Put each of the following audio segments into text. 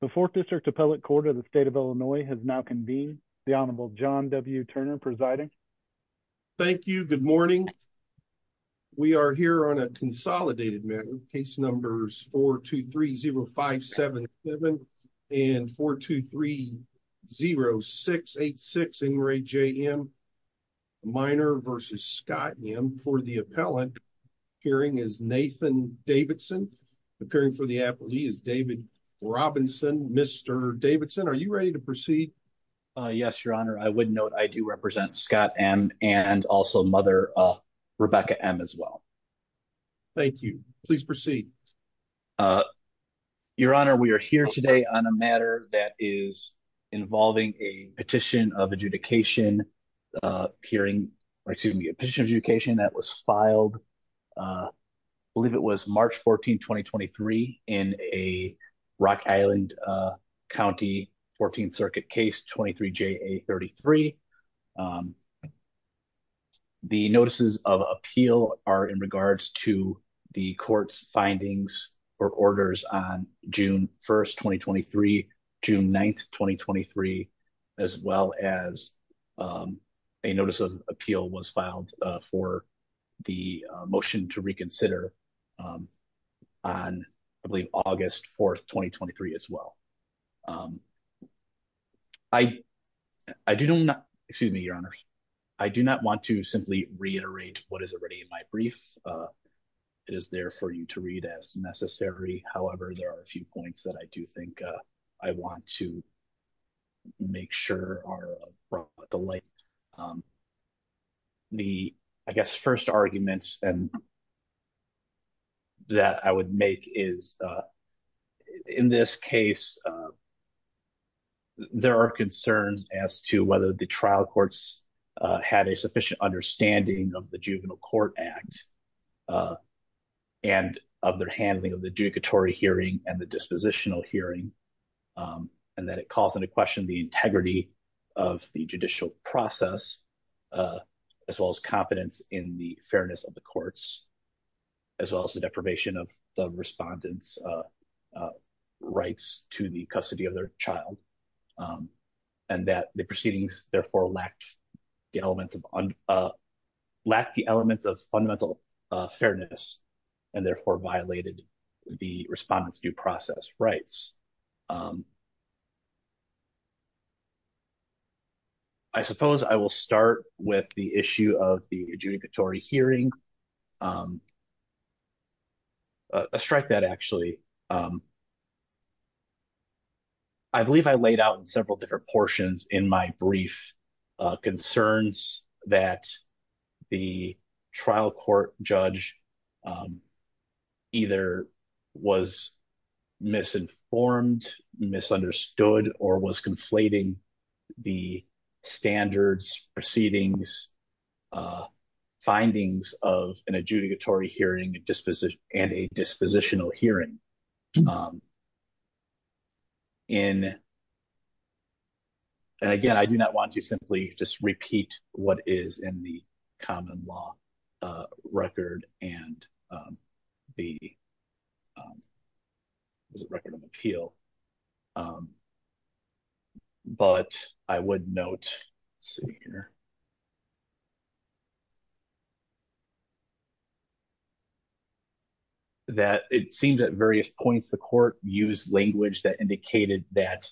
The 4th District Appellate Court of the State of Illinois has now convened. The Honorable John W. Turner presiding. Thank you. Good morning. We are here on a consolidated matter. Case numbers 4-2-3-0-5-7-7 and 4-2-3-0-6-8-6, Ingray J.M. Minor versus Scott M. for the appellant. Appearing is Nathan Davidson. Appearing for the appellee is David Robinson. Mr. Davidson, are you ready to proceed? Yes, Your Honor. I would note I do represent Scott M. and also Mother Rebecca M. as well. Thank you. Please proceed. Your Honor, we are here today on a matter that is involving a petition of adjudication hearing, or excuse me, a petition of adjudication that was filed, I believe it was March 14, 2023, in a Rock Island County 14th Circuit case 23-JA-33. The notices of appeal are in regards to the court's findings or orders on June 1, 2023, June 9, 2023, as well as a notice of appeal was filed for the motion to reconsider on August 4, 2023, as well. I do not want to simply reiterate what is already in my brief. It is there for you to read as necessary. However, there are a few points that I do think I want to make sure are brought to light. The, I guess, first argument that I would make is, in this case, there are concerns as to whether the trial courts had a sufficient understanding of the Juvenile Court Act and of their handling of the adjudicatory hearing and the dispositional hearing, and that it calls into question the integrity of the judicial process, as well as competence in the fairness of the courts, as well as the deprivation of the respondent's rights to the custody of their child, and that the proceedings, therefore, lacked the elements of fundamental fairness and, therefore, violated the respondent's due process rights. I suppose I will start with the issue of the adjudicatory hearing. I'll strike that, actually. I believe I laid out in several different portions in my brief concerns that the trial court judge either was misinformed, misunderstood, or was conflating the standards, proceedings, findings of an adjudicatory hearing and a dispositional hearing. And, again, I do not want to simply just repeat what is in the common law record and the record of appeal, but I would note, let's see here, that it seems at various points the court used language that indicated that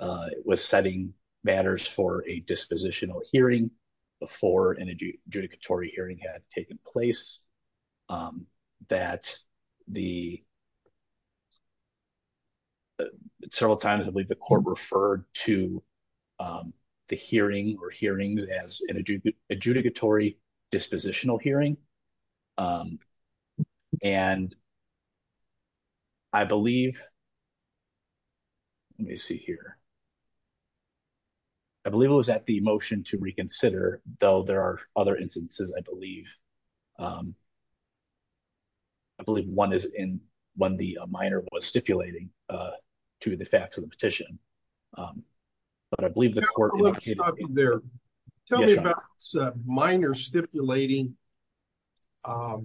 it was setting matters for a dispositional hearing before an adjudicatory hearing had taken place, that the several times, I believe, the court referred to the hearing or hearings as an adjudicatory dispositional hearing, and I believe, let me see here, I believe it was at the motion to reconsider, though there are other instances, I believe. I believe one is in when the minor was stipulating to the facts of the petition, but I believe the court indicated. Let me stop you there. Tell me about minor stipulating to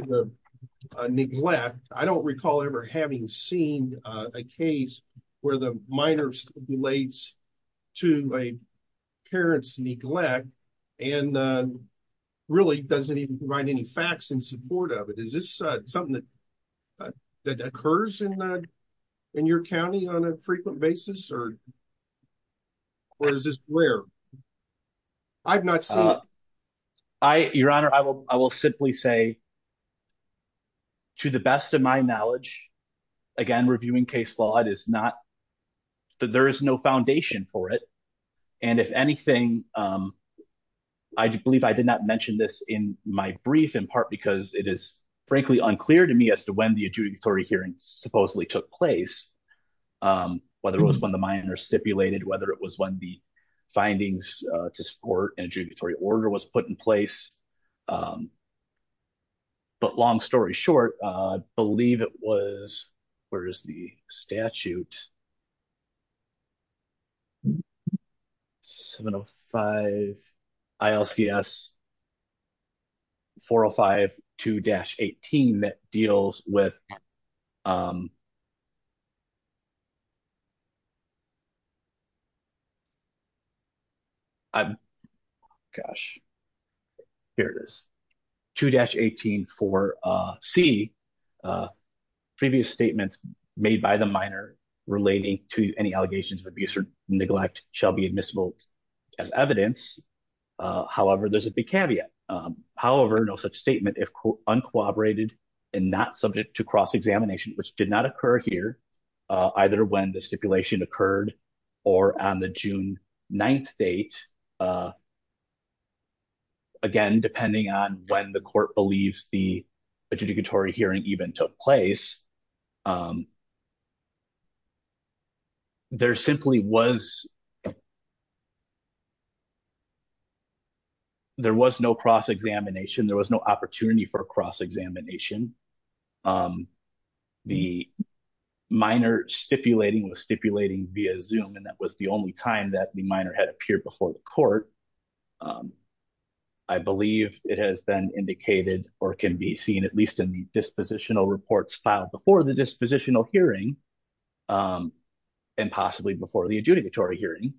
the neglect. I don't recall ever having seen a case where the minor stipulates to a parent's neglect and really doesn't even provide any facts in support of it. Is this something that occurs in your county on a frequent basis, or is this rare? I've not seen it. Your Honor, I will simply say, to the best of my knowledge, again, reviewing case law, there is no foundation for it, and if anything, I believe I did not mention this in my brief, in part because it is, frankly, unclear to me as to when the adjudicatory hearing supposedly took place, whether it was when the minor stipulated, whether it was when the findings to support an adjudicatory order was put in place, but long story short, I believe it was, where is the statute? 705-ILCS-405-2-18 that deals with, gosh, here it is, 2-18-4C, previous statements made by the minor relating to any allegations of abuse or neglect shall be admissible as evidence. However, there's a big caveat. However, no such statement, if uncooperated and not subject to cross-examination, which did not date, again, depending on when the court believes the adjudicatory hearing even took place, there simply was, there was no cross-examination, there was no opportunity for a cross-examination. The minor stipulating was stipulating via Zoom, and that was the only time that the minor had appeared before the court. I believe it has been indicated or can be seen, at least in the dispositional reports filed before the dispositional hearing and possibly before the adjudicatory hearing,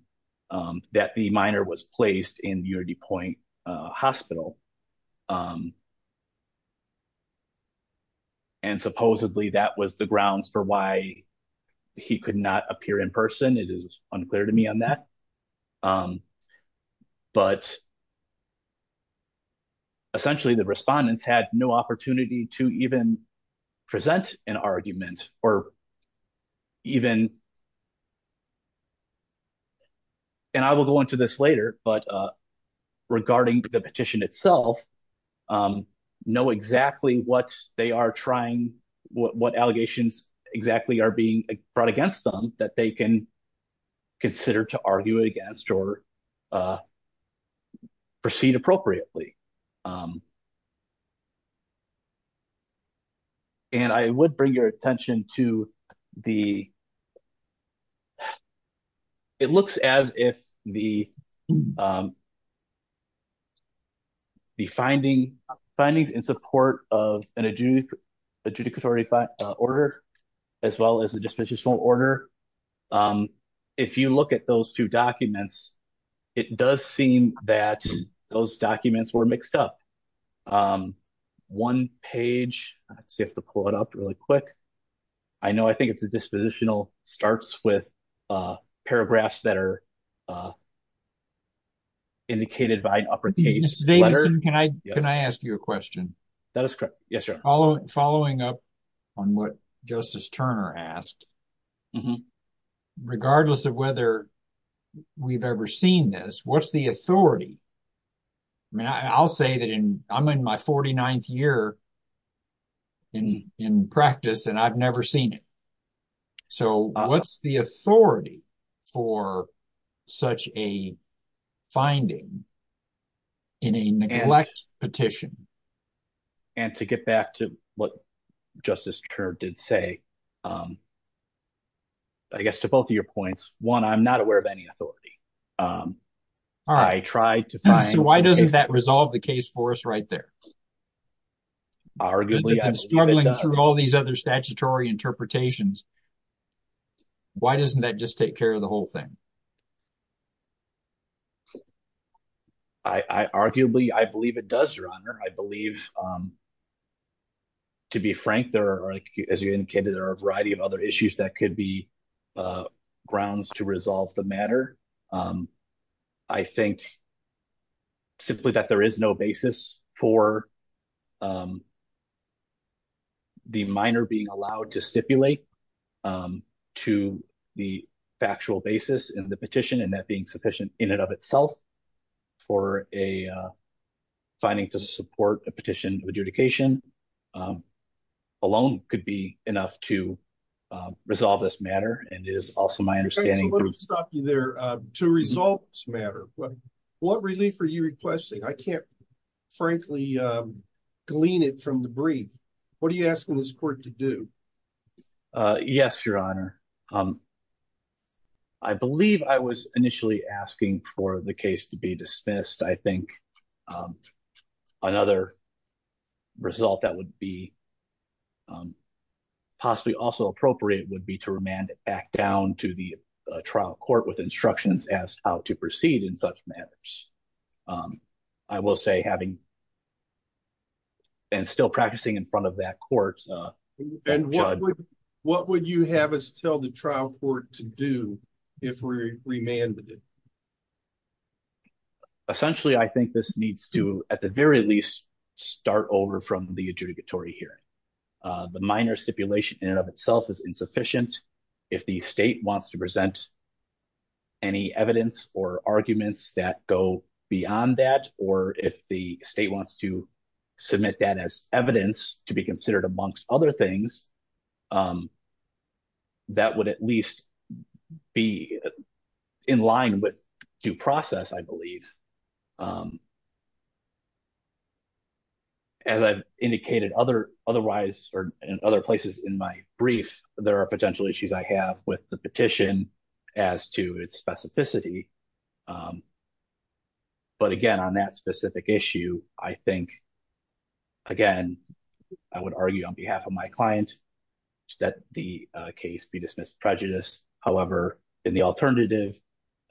that the minor was placed in the UnityPoint Hospital, and supposedly that was the grounds for why he could not appear in person. It is unclear to me on that, but essentially, the respondents had no opportunity to even present an argument or even and I will go into this later, but regarding the petition itself, know exactly what they are trying, what allegations exactly are being brought against them that they can consider to argue against or proceed appropriately. And I would bring your attention to the, it looks as if the findings in support of an adjudicatory order as well as the dispositional order, if you look at those two documents, it does seem that those documents were mixed up. One page, let's see, I have to pull it up really quick. I know, I think it's a dispositional, starts with paragraphs that are indicated by an uppercase letter. David, can I ask you a question? That is correct. Yes, sir. Following up on what Justice Turner asked, regardless of whether we've ever seen this, what's the authority? I mean, I'll say that I'm in my 49th year in practice and I've never seen it. So, what's the authority for such a finding in a neglect petition? And to get back to what Justice Turner did say, I guess to both of your points, one, I'm not aware of any authority. I tried to find... So, why doesn't that resolve the case for us right there? Arguably, I believe it does. Struggling through all these other statutory interpretations, why doesn't that just take care of the whole thing? I arguably, I believe it does, Your Honor. I believe, to be frank, there are, as you indicated, there are a variety of other issues that could be grounds to resolve the matter. I think simply that there is no basis for the minor being allowed to stipulate to the factual basis in the petition and that being sufficient in and of itself for a finding to support a petition of adjudication alone could be enough to resolve this matter. And it is also my understanding... So, let me stop you there. To resolve this matter, what relief are you requesting? I can't, frankly, glean it from the brief. What are you asking this court to do? Yes, Your Honor. I believe I was initially asking for the case to be dismissed. I think another result that would be possibly also appropriate would be to remand it back down to the trial court with instructions as how to proceed in such matters. I will say having been and still practicing in front of that court... What would you have us tell the trial court to do if we remanded it? Essentially, I think this needs to, at the very least, start over from the adjudicatory hearing. The minor stipulation in and of itself is insufficient. If the state wants to present any evidence or arguments that go beyond that, or if the state wants to submit that as evidence to be considered amongst other things, that would at least be in line with due process, I believe. As I've indicated in other places in my brief, there are potential issues I have with the specificity of the case. Again, on that specific issue, I would argue on behalf of my client that the case be dismissed prejudiced. However, in the alternative,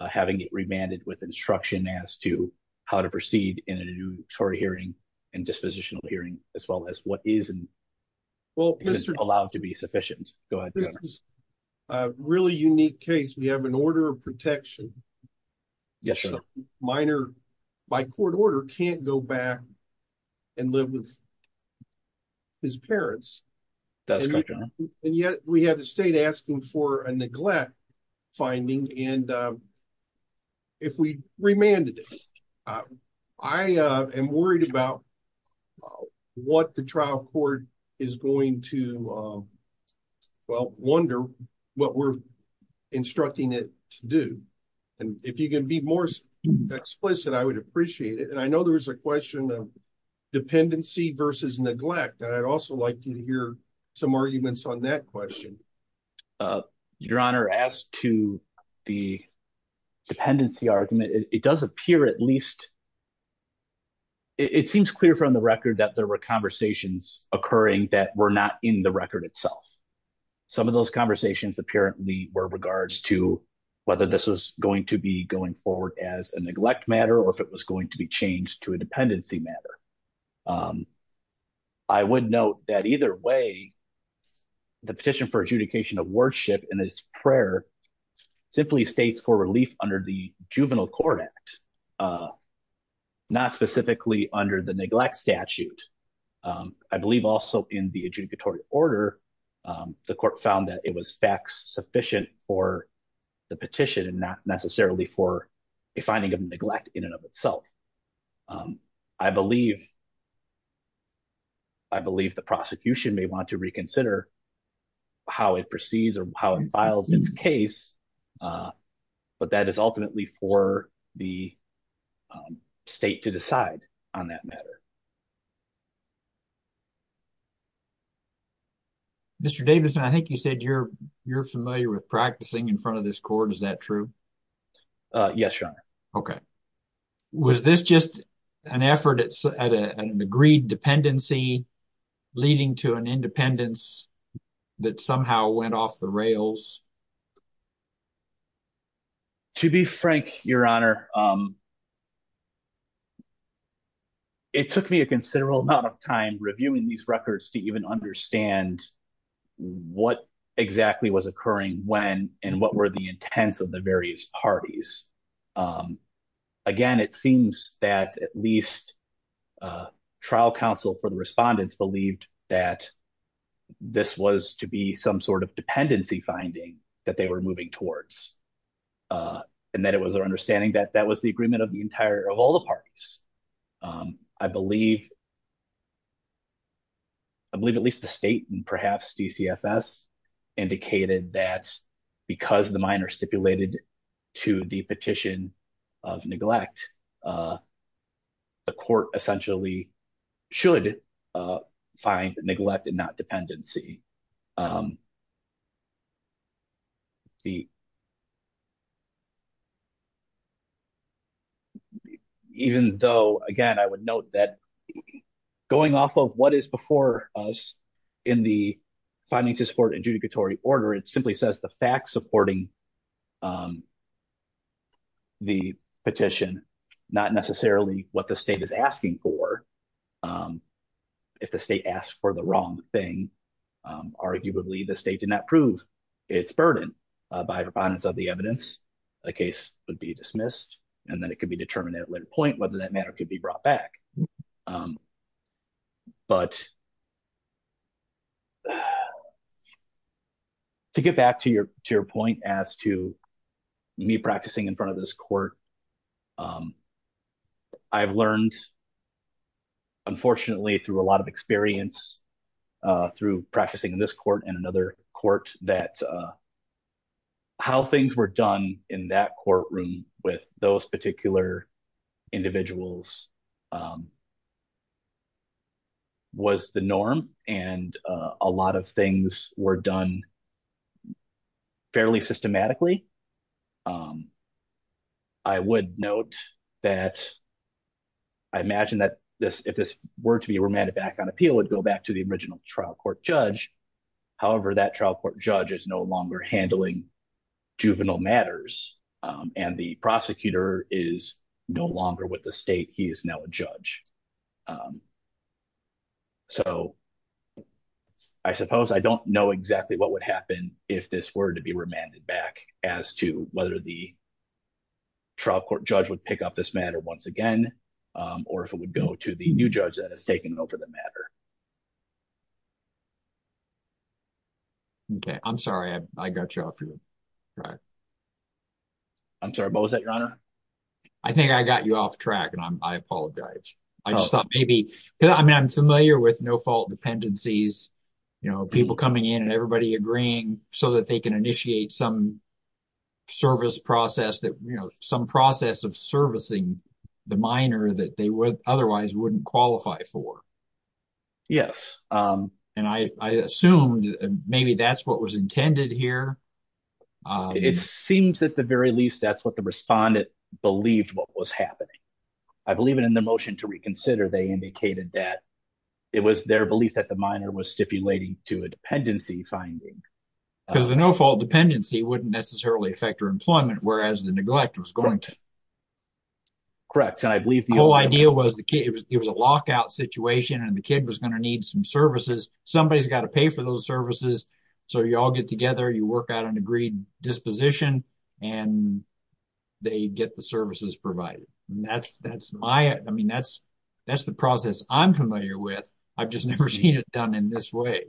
having it remanded with instruction as to how to proceed in an adjudicatory hearing and dispositional hearing, as well as what is and isn't allowed to be sufficient. This is a really unique case. We have an order of protection. The minor, by court order, can't go back and live with his parents. And yet, we have the state asking for a neglect finding. If we remanded it, I am worried about what the trial court is going to wonder what we're instructing it to do. If you can be more explicit, I would appreciate it. I know there was a question of dependency versus neglect. I'd also like to hear some arguments on that question. Your Honor, as to the dependency argument, it does appear at least, it seems clear from the record that there were conversations occurring that were not in the record itself. Some of those conversations apparently were regards to whether this was going to be going forward as a neglect matter or if it was going to be changed to a dependency matter. I would note that either way, the petition for adjudication of worship and its prayer simply states for relief under the Juvenile Court Act, not specifically under the neglect statute. I believe also in the adjudicatory order, the court found that it was fact-sufficient for the petition and not necessarily for a finding of neglect in and of itself. I believe the prosecution may want to reconsider how it perceives or how it files its case, but that is ultimately for the state to decide on that matter. Mr. Davidson, I think you said you're familiar with practicing in front of this court. Is that just an effort at an agreed dependency leading to an independence that somehow went off the rails? To be frank, Your Honor, it took me a considerable amount of time reviewing these records to even understand what exactly was occurring when and what were the intents of the various parties. Again, it seems that at least trial counsel for the respondents believed that this was to be some sort of dependency finding that they were moving towards and that it was their understanding that that was the agreement of all the parties. I believe at least the state and perhaps DCFS indicated that because the minor stipulated to the petition of neglect, the court essentially should find neglect and not dependency. Even though, again, I would note that going off of what is before us in the finding to support adjudicatory order, it simply says the fact supporting the petition, not necessarily what the state is asking for, if the state asked for the wrong thing, arguably the state did not prove its burden by the abundance of the evidence, the case would be dismissed, and then it could be determined at a later point whether that matter could be brought back. But to get back to your point as to me practicing in front of this court and another court that how things were done in that courtroom with those particular individuals was the norm, and a lot of things were done fairly systematically. I would note that I imagine that if this were to be remanded back on appeal, it would go back to the original trial court judge. However, that trial court judge is no longer handling juvenile matters, and the prosecutor is no longer with the state. He is now a judge. So, I suppose I don't know exactly what would happen if this were to be remanded back as to whether the trial court judge would pick up this matter once again, or if it would go to the new judge that has taken over the matter. Okay, I'm sorry, I got you off your track. I'm sorry, what was that, Your Honor? I think I got you off track, and I apologize. I just thought maybe, I mean, I'm familiar with no-fault dependencies, you know, people coming in and everybody agreeing so that they can initiate some service process that, you know, some process of servicing the minor that they would otherwise wouldn't qualify for. Yes. And I assumed maybe that's what was intended here. It seems at the very least that's what the respondent believed what was happening. I believe in the motion to reconsider, they indicated that it was their belief that the minor was stipulating to a dependency finding. Because the no-fault dependency wouldn't necessarily affect her employment, whereas the neglect was going to. Correct, and I believe the whole idea was it was a lockout situation, and the kid was going to need some services. Somebody's got to pay for those services, so you all get together, you work out an agreed disposition, and they get the services provided. That's the process I'm familiar with. I've just never seen it done in this way.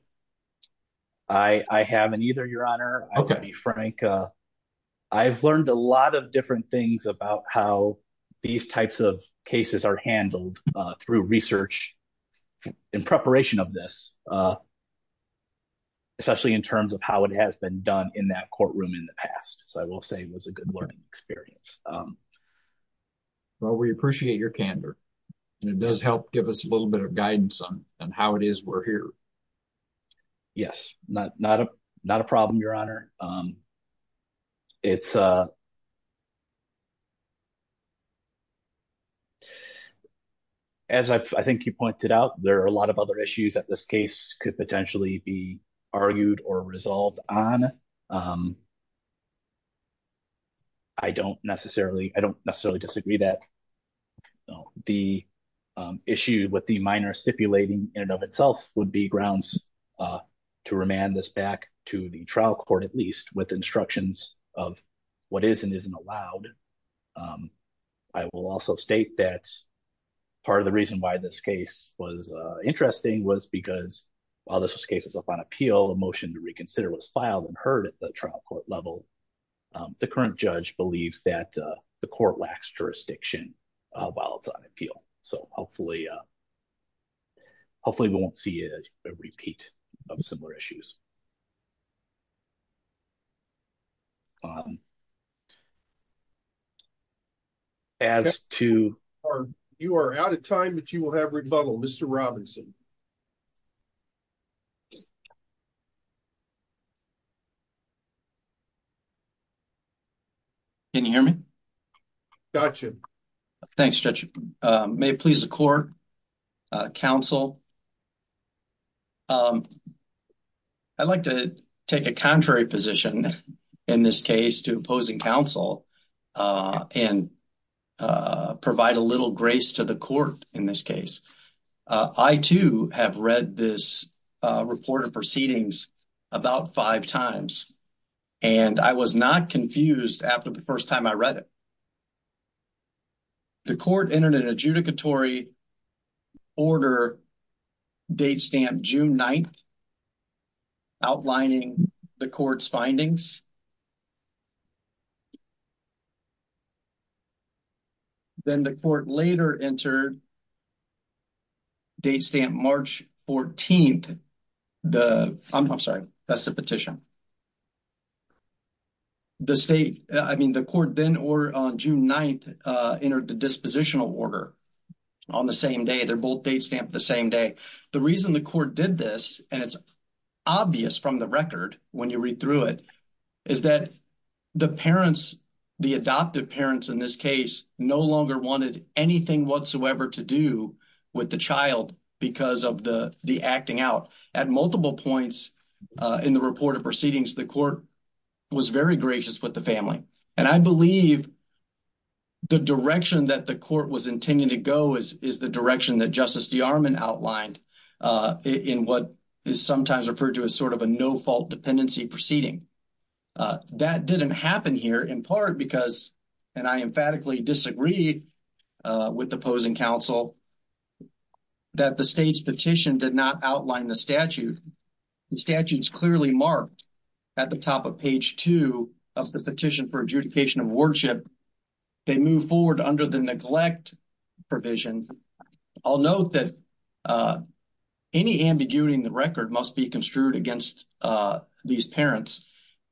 I haven't either, Your Honor. I'll be frank. I've learned a lot of different things about how these types of cases are handled through research and preparation of this, especially in terms of how it has been done in that courtroom in the past. I will say it was a good learning experience. Well, we appreciate your candor, and it does help give us a little bit of guidance on how it is we're here. Yes, not a problem, Your Honor. As I think you pointed out, there are a lot of other issues that this case could potentially be argued or resolved on. I don't necessarily disagree that the issue with the minor stipulating in and of itself would be grounds to remand this back to the trial court, at least, with instructions of what is and isn't interesting. While this case was up on appeal, a motion to reconsider was filed and heard at the trial court level. The current judge believes that the court lacks jurisdiction while it's on appeal. Hopefully, we won't see a repeat of similar issues. You are out of time, but you will have rebuttal, Mr. Robinson. Can you hear me? Gotcha. Thanks, Judge. May it please the court, counsel, I'd like to take a contrary position in this case to opposing counsel and provide a little grace to the court in this case. I, too, have read this report of proceedings about five times, and I was not confused after the first time I read it. The court entered an adjudicatory order date stamp June 9th, outlining the court's findings. Then the court later entered date stamp March 14th, the – I'm sorry, that's the petition. The state – I mean, the court then, on June 9th, entered the dispositional order on the same day. They're both date stamped the same day. The reason the court did this, and it's obvious from the record when you read through it, is that the parents, the adoptive parents in this case, no longer wanted anything whatsoever to do with the child because of the acting out. At multiple points in the report of proceedings, the court was very gracious with the family. And I believe the direction that the court was intending to go is the direction that Justice DeArmond outlined in what is sometimes referred to as sort of a no-fault dependency proceeding. That didn't happen here in part because – and I emphatically disagreed with the opposing counsel – that the state's petition did not outline the statute. The statute is clearly marked at the top of page 2 of the Petition for Adjudication of Worship. They move forward under the neglect provision. I'll note that any ambiguity in the record must be construed against these parents.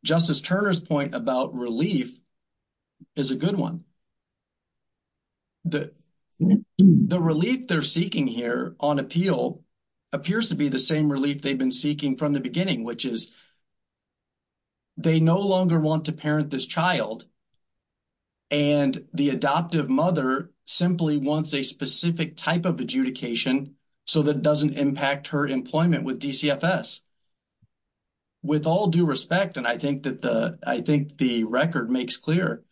Justice Turner's point about relief is a good one. The relief they're seeking here on appeal appears to be the same relief they've been seeking from the beginning, which is they no longer want to parent this child and the adoptive mother simply wants a specific type of adjudication so that it doesn't impact her employment with DCFS. With all due respect, and I think the record makes clear,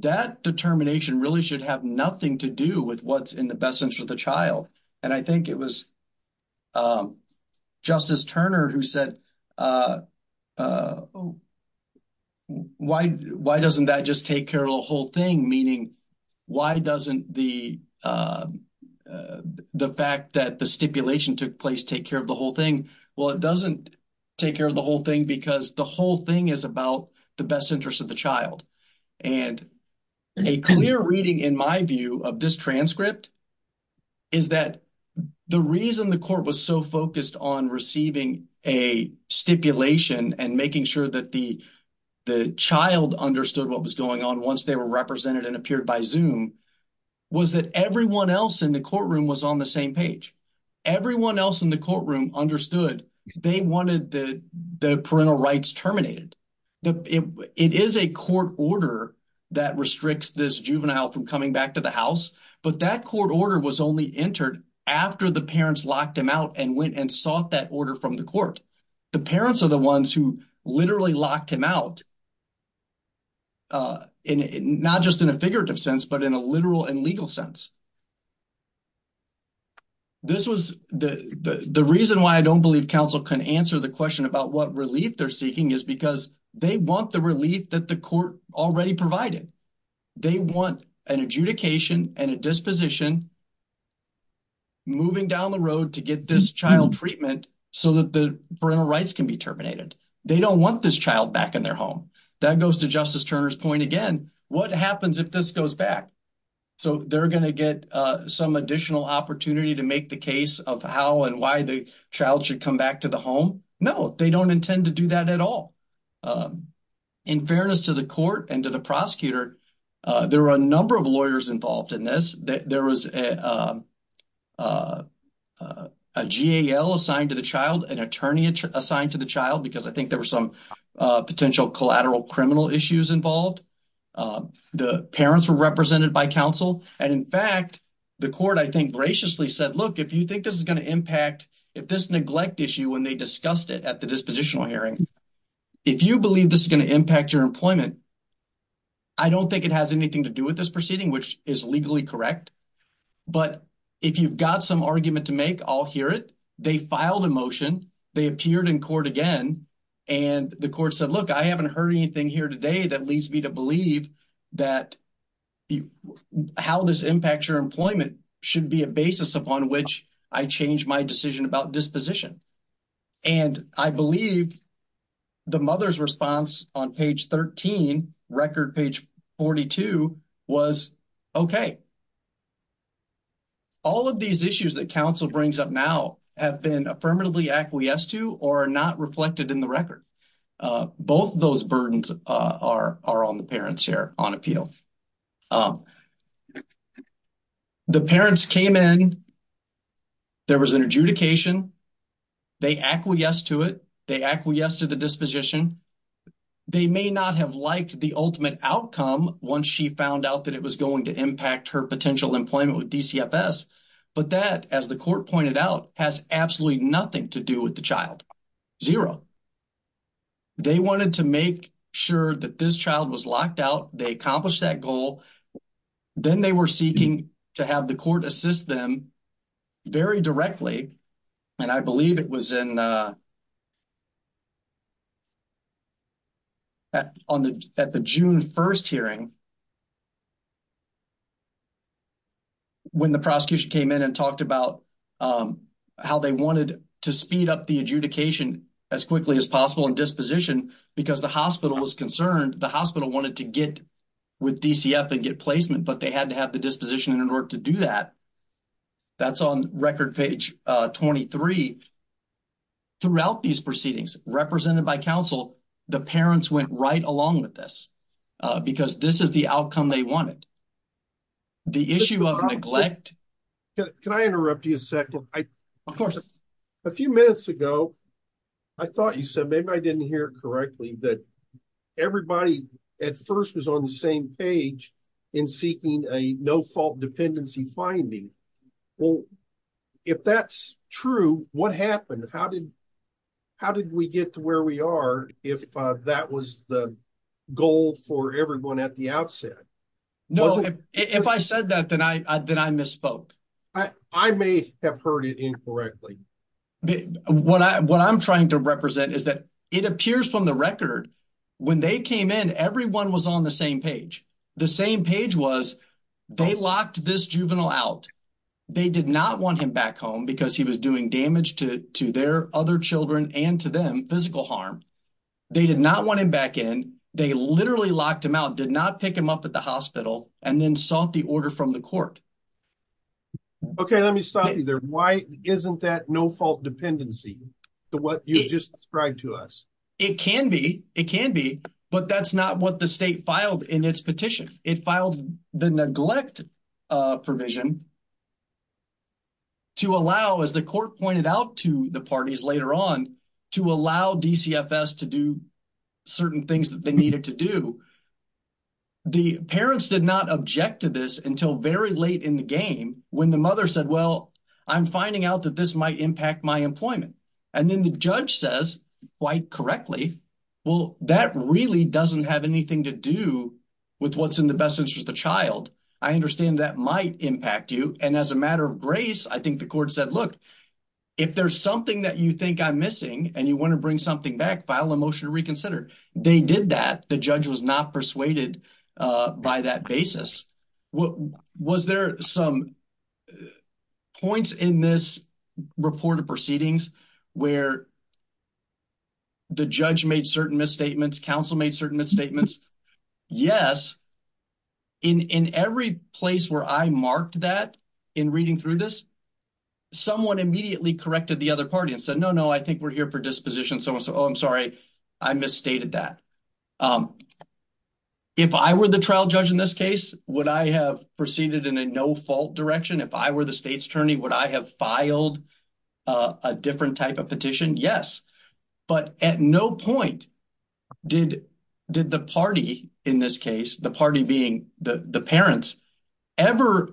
that determination really should have nothing to do with what's in the best interest of the child. And I think it was Justice Turner who said, why doesn't that just take care of the whole thing? Meaning, why doesn't the fact that the place take care of the whole thing? Well, it doesn't take care of the whole thing because the whole thing is about the best interest of the child. And a clear reading in my view of this transcript is that the reason the court was so focused on receiving a stipulation and making sure that the child understood what was going on once they were represented and appeared by Zoom was that everyone else in the courtroom was on the same page. Everyone else in the courtroom understood they wanted the parental rights terminated. It is a court order that restricts this juvenile from coming back to the house, but that court order was only entered after the parents locked him out and went and sought that order from the court. The parents are the ones who literally locked him out, not just in a figurative sense, but in a literal and legal sense. The reason why I don't believe counsel can answer the question about what relief they're seeking is because they want the relief that the court already provided. They want an adjudication and a disposition moving down the road to get this child treatment so that the parental rights can be terminated. They don't want this child back in their home. That goes to Justice Turner's point again. What happens if this goes back? So, they're going to get some additional opportunity to make the case of how and why the child should come back to the home? No, they don't intend to do that at all. In fairness to the court and to the prosecutor, there were a number of lawyers involved in this. There was a GAL assigned to the child, an attorney assigned to the child, because I think there were potential collateral criminal issues involved. The parents were represented by counsel. In fact, the court, I think, graciously said, look, if you think this is going to impact, if this neglect issue, when they discussed it at the dispositional hearing, if you believe this is going to impact your employment, I don't think it has anything to do with this proceeding, which is legally correct. But if you've got some argument to make, I'll hear it. They filed a motion. They appeared in court again. And the court said, look, I haven't heard anything here today that leads me to believe that how this impacts your employment should be a basis upon which I change my decision about disposition. And I believe the mother's response on page 13, record page 42, was okay. All of these issues that counsel brings up now have been affirmatively acquiesced to or are not reflected in the record. Both of those burdens are on the parents here on appeal. The parents came in. There was an adjudication. They acquiesced to it. They may not have liked the ultimate outcome once she found out that it was going to impact her potential employment with DCFS. But that, as the court pointed out, has absolutely nothing to do with the child. Zero. They wanted to make sure that this child was locked out. They accomplished that goal. Then they were seeking to have the court assist them very directly. And I believe it was in at the June 1st hearing when the prosecution came in and talked about how they wanted to speed up the adjudication as quickly as possible in disposition because the hospital was concerned. The hospital wanted to get with DCF and get placement, but they had to have the disposition in order to do that. That's on record page 23. Throughout these proceedings, represented by counsel, the parents went right along with this because this is the outcome they wanted. The issue of neglect... Can I interrupt you a second? Of course. A few minutes ago, I thought you said, maybe I didn't hear it correctly, that everybody at first was on the same page in seeking a no-fault dependency finding. Well, if that's true, what happened? How did we get to where we are if that was the goal for everyone at the outset? No. If I said that, then I misspoke. I may have heard it incorrectly. What I'm trying to represent is that it appears from the record when they came in, everyone was on the same page. The same page was they locked this juvenile out. They did not want him back home because he was doing damage to their other children and to them, physical harm. They did not want him back in. They literally locked him out, did not pick him up at the hospital, and then sought the order from the court. Okay. Let me stop you there. Why isn't that no-fault dependency to what you just described to us? It can be. It can be. But that's not what the state filed in its petition. It filed the neglect provision to allow, as the court pointed out to the parties later on, to allow DCFS to do certain things that they needed to do. The parents did not object to this until very late in the game when the mother said, well, I'm finding out that this might impact my employment. And then the judge says, quite correctly, well, that really doesn't have anything to do with what's in the best interest of the child. I understand that might impact you. And as a matter of grace, I think the court said, look, if there's something that you think I'm missing and you want to bring something back, file a motion to reconsider. They did that. The judge was not persuaded by that basis. Was there some points in this report of proceedings where the judge made certain misstatements, counsel made certain misstatements? Yes. In every place where I marked that in reading through this, someone immediately corrected the other party and said, no, no, I think we're here for disposition. Someone said, oh, I'm sorry, I misstated that. If I were the trial judge in this case, would I have proceeded in a no-fault direction? If I were the state's attorney, would I have filed a different type of petition? Yes. But at no point did the party in this case, the party being the parents, ever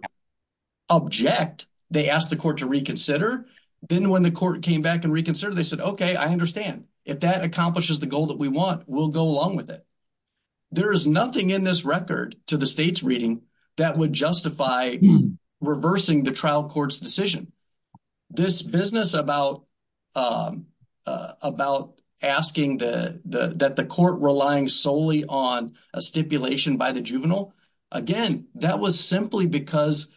object. They asked the court to reconsider. Then when the court came back and reconsidered, they said, okay, I understand. If that accomplishes the goal that we want, we'll go along with it. There is nothing in this record to the state's reading that would justify reversing the trial court's decision. This business about about asking that the court relying solely on a stipulation by the juvenile, again, that was simply because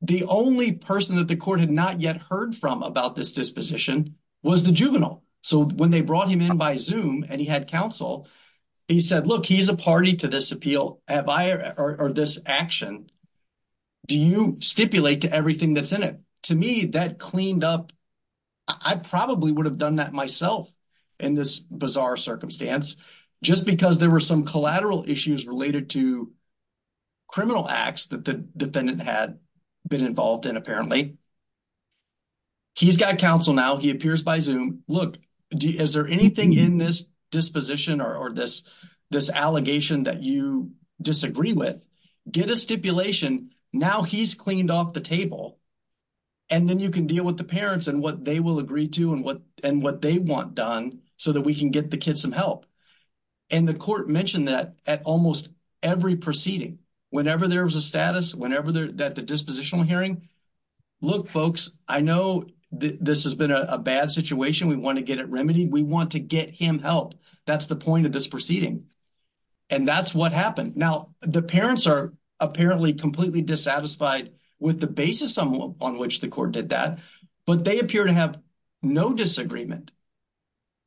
the only person that the court had not yet heard from about this disposition was the juvenile. So when they brought him in by Zoom and he had counsel, he said, look, he's a party to this appeal or this action. Do you stipulate to everything that's in it? To me, that cleaned up. I probably would have done that myself in this bizarre circumstance, just because there were some collateral issues related to criminal acts that the defendant had been involved in, apparently. He's got counsel now. He appears by Zoom. Look, is there anything in this disposition or this allegation that you disagree with? Get a stipulation. Now he's cleaned off the table. And then you can deal with the parents and what they will agree to and what they want done so that we can get the kids some help. And the court mentioned that at almost every proceeding, whenever there was a status, whenever that the dispositional hearing, look, folks, I know this has been a bad situation. We want to get it remedied. We want to get him help. That's the point of this proceeding. And that's what happened. Now, the parents are the basis on which the court did that, but they appear to have no disagreement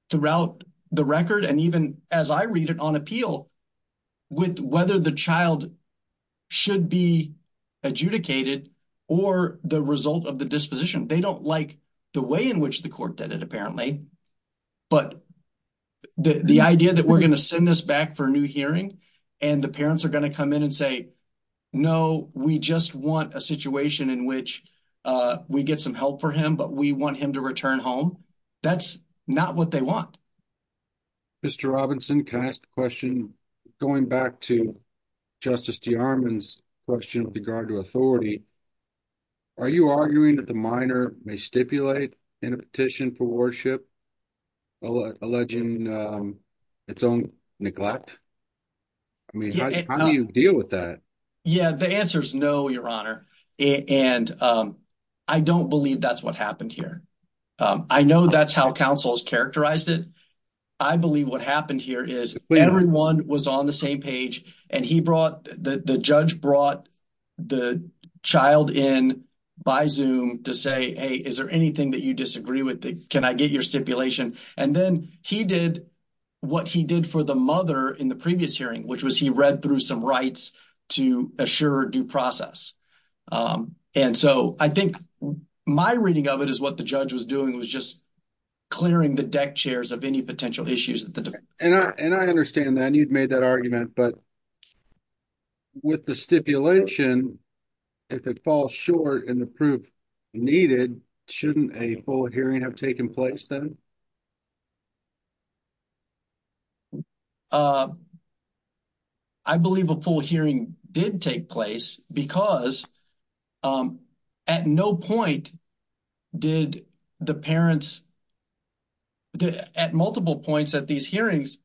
throughout the record. And even as I read it on appeal with whether the child should be adjudicated or the result of the disposition, they don't like the way in which the court did it, apparently. But the idea that we're going to send this back for a new hearing and the parents are going to come in and say, no, we just want a situation in which we get some help for him, but we want him to return home. That's not what they want. Mr. Robinson, can I ask a question going back to Justice DeArmond's question with regard to authority? Are you arguing that the minor may stipulate in a petition for worship, alleging its own neglect? I mean, how do you deal with that? Yeah, the answer is no, Your Honor. And I don't believe that's what happened here. I know that's how counsel has characterized it. I believe what happened here is everyone was on the same page and the judge brought the child in by Zoom to say, hey, is there anything that you disagree with? Can I get your stipulation? And then he did what he did for the mother in the previous hearing, which was he read through some rights to assure due process. And so I think my reading of it is what the judge was doing was just clearing the deck chairs of any potential issues. And I understand that you've made that argument, but with the stipulation, if it falls short in the proof needed, shouldn't a full hearing have taken place then? I believe a full hearing did take place because at no point did the parents, at multiple points at these hearings,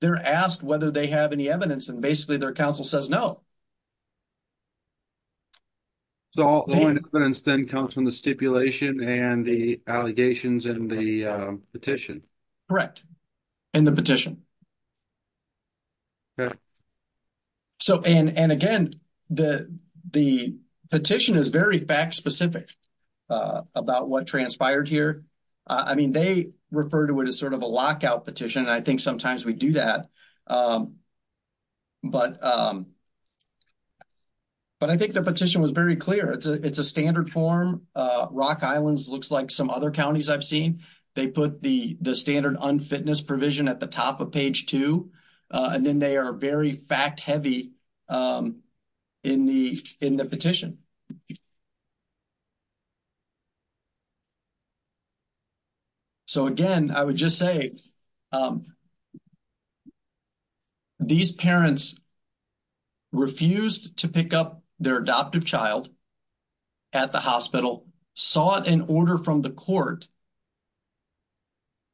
they're asked whether they have any evidence and basically their counsel says no. So all evidence then comes from the stipulation and the allegations in the petition? Correct. In the petition. Okay. So, and again, the petition is very fact-specific about what transpired here. I mean, they refer to it as sort of a lockout petition, and I think sometimes we do that. But I think the petition was very clear. It's a standard form. Rock Islands looks like some other provision at the top of page 2. And then they are very fact-heavy in the petition. So, again, I would just say these parents refused to pick up their adoptive child at the hospital, sought an order from the court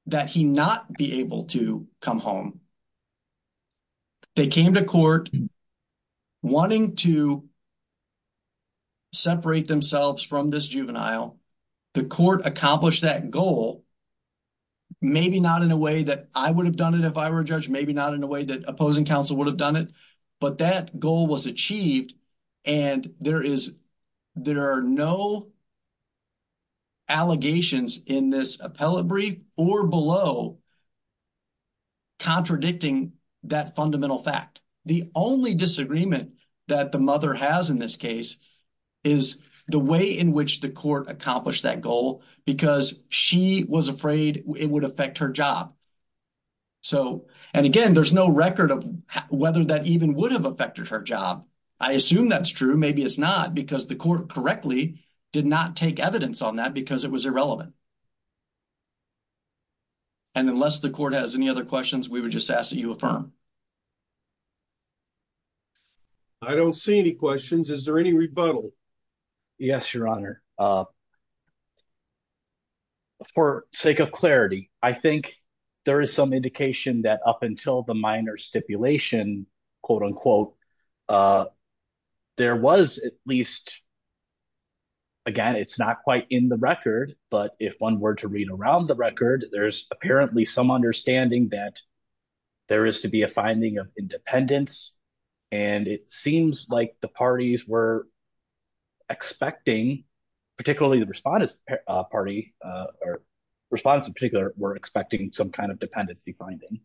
that he not be able to come home. They came to court wanting to separate themselves from this juvenile. The court accomplished that goal, maybe not in a way that I would have done it if I were a judge, maybe not in a way that opposing counsel would have done it. But that goal was achieved and there are no allegations in this appellate brief or below contradicting that fundamental fact. The only disagreement that the mother has in this case is the way in which the court accomplished that goal because she was afraid it would affect her job. So, and again, there's no record of whether that even would have affected her job. I assume that's true. Maybe it's not because the court correctly did not take evidence on that because it was irrelevant. And unless the court has any other questions, we would just ask that you affirm. I don't see any questions. Is there any rebuttal? Yes, your honor. For sake of clarity, I think there is some indication that up until the minor stipulation, quote unquote, there was at least, again, it's not quite in the record, but if one were to read around the record, there's apparently some understanding that there is to be a finding of independence. And it seems like the parties were expecting, particularly the respondents in particular were expecting some kind of dependency finding.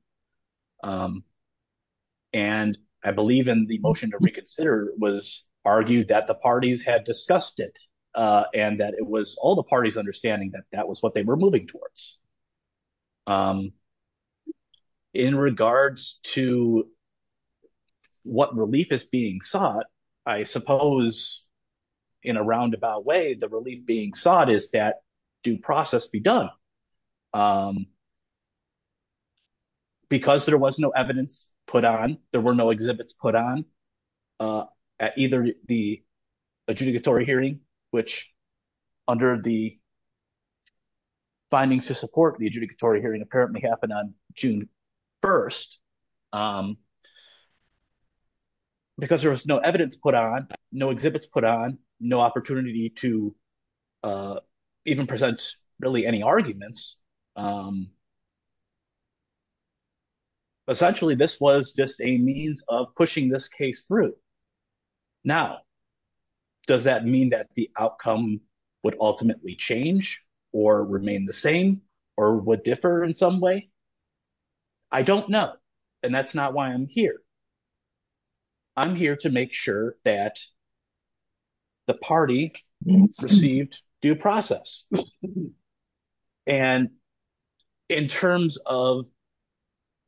And I believe in the motion to reconsider was argued that the parties had discussed it and that it was all the parties understanding that that was what they were moving towards. In regards to what relief is being sought, I suppose in a roundabout way, the relief being sought is that due process be done. Because there was no evidence put on, there were no exhibits put on at either the adjudicatory hearing, which under the findings to support the adjudicatory hearing apparently happened on June 1st. Because there was no evidence put on, no exhibits put on, no opportunity to even present really any arguments. Essentially, this was just a means of pushing this case through. Now, does that mean that the outcome would ultimately change or remain the same or would differ in some way? I don't know. And that's not why I'm here. I'm here to make sure that the party received due process. And in terms of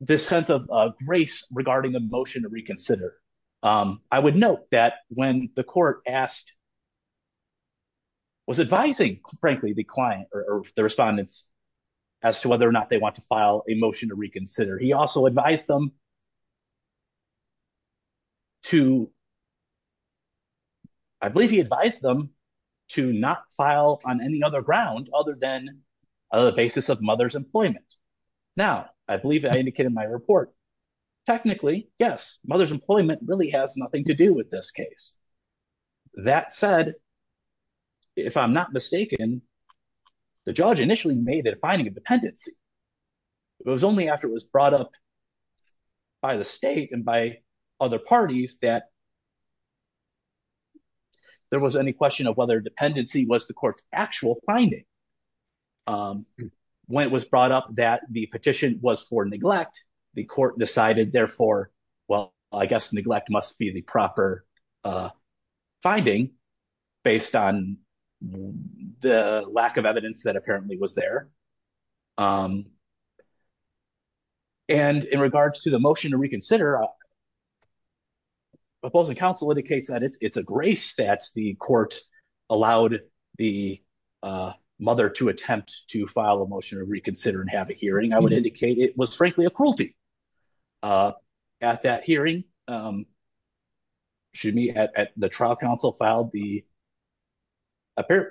this sense of grace regarding a motion to reconsider, I would note that when the court asked, was advising, frankly, the client or the respondents as to whether or not they want to file a motion to reconsider. He also advised them to, I believe he advised them to not file on any other ground other than the basis of mother's employment. Now, I believe I indicated in my report, technically, yes, mother's employment really has nothing to do with this case. That said, if I'm not mistaken, the judge initially made it a finding of dependency. It was only after it was brought up by the state and by other parties that there was any question of whether dependency was the court's actual finding. When it was brought up that the petition was for neglect, the court decided, therefore, well, I guess neglect must be the proper finding based on the lack of evidence that apparently was there. And in regards to the motion to reconsider, the opposing counsel indicates that it's a grace that the court allowed the mother to attempt to file a motion to reconsider and have a hearing. I would indicate it was, frankly, a cruelty. At that hearing, excuse me, the trial counsel filed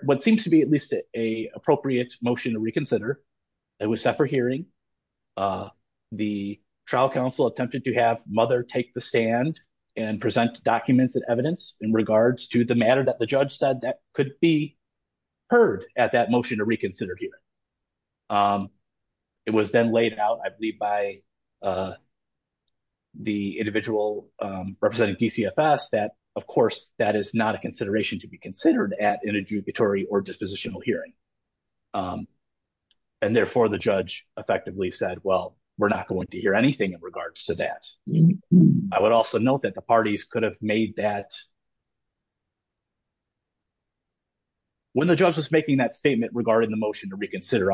what seems to be at least an appropriate motion to reconsider. It was set for hearing. The trial counsel attempted to have mother take the stand and present documents and evidence in regards to the matter that the judge said that could be heard at that motion to reconsider hearing. It was then laid out, I believe, by the individual representing DCFS that, of course, that is not a consideration to be considered at an adjudicatory or dispositional hearing. And therefore, the judge effectively said, well, we're not going to hear anything in regards to that. I would also note that the parties could have made that, when the judge was making that statement regarding the motion to reconsider.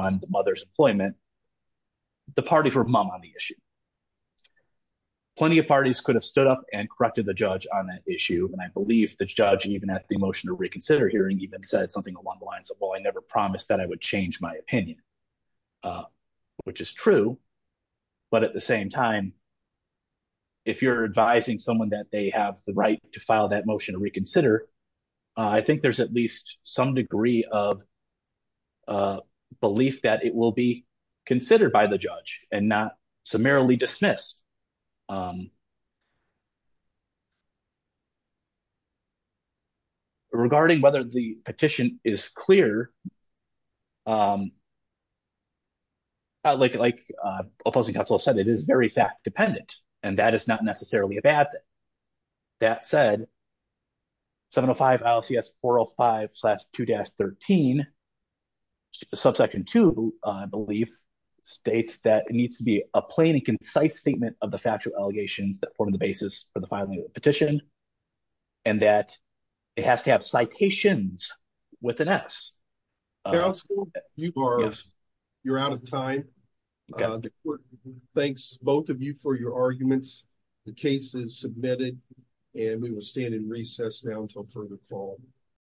Plenty of parties could have stood up and corrected the judge on that issue. And I believe the judge, even at the motion to reconsider hearing, even said something along the lines of, well, I never promised that I would change my opinion, which is true. But at the same time, if you're advising someone that they have the right to file that motion to reconsider, I think there's at least some degree of belief that it will be considered by the judge and not summarily dismissed. Regarding whether the petition is clear, like opposing counsel said, it is very fact-dependent, and that is not necessarily a bad thing. That said, 705 ILCS 405-2-13, subsection 2, I believe, states that it needs to be a plain and concise statement of the factual allegations that form the basis for the filing of the petition, and that it has to have citations with an S. Counsel, you are out of time. Thanks, both of you, for your arguments. The case is submitted, and we will stand in recess now until further call.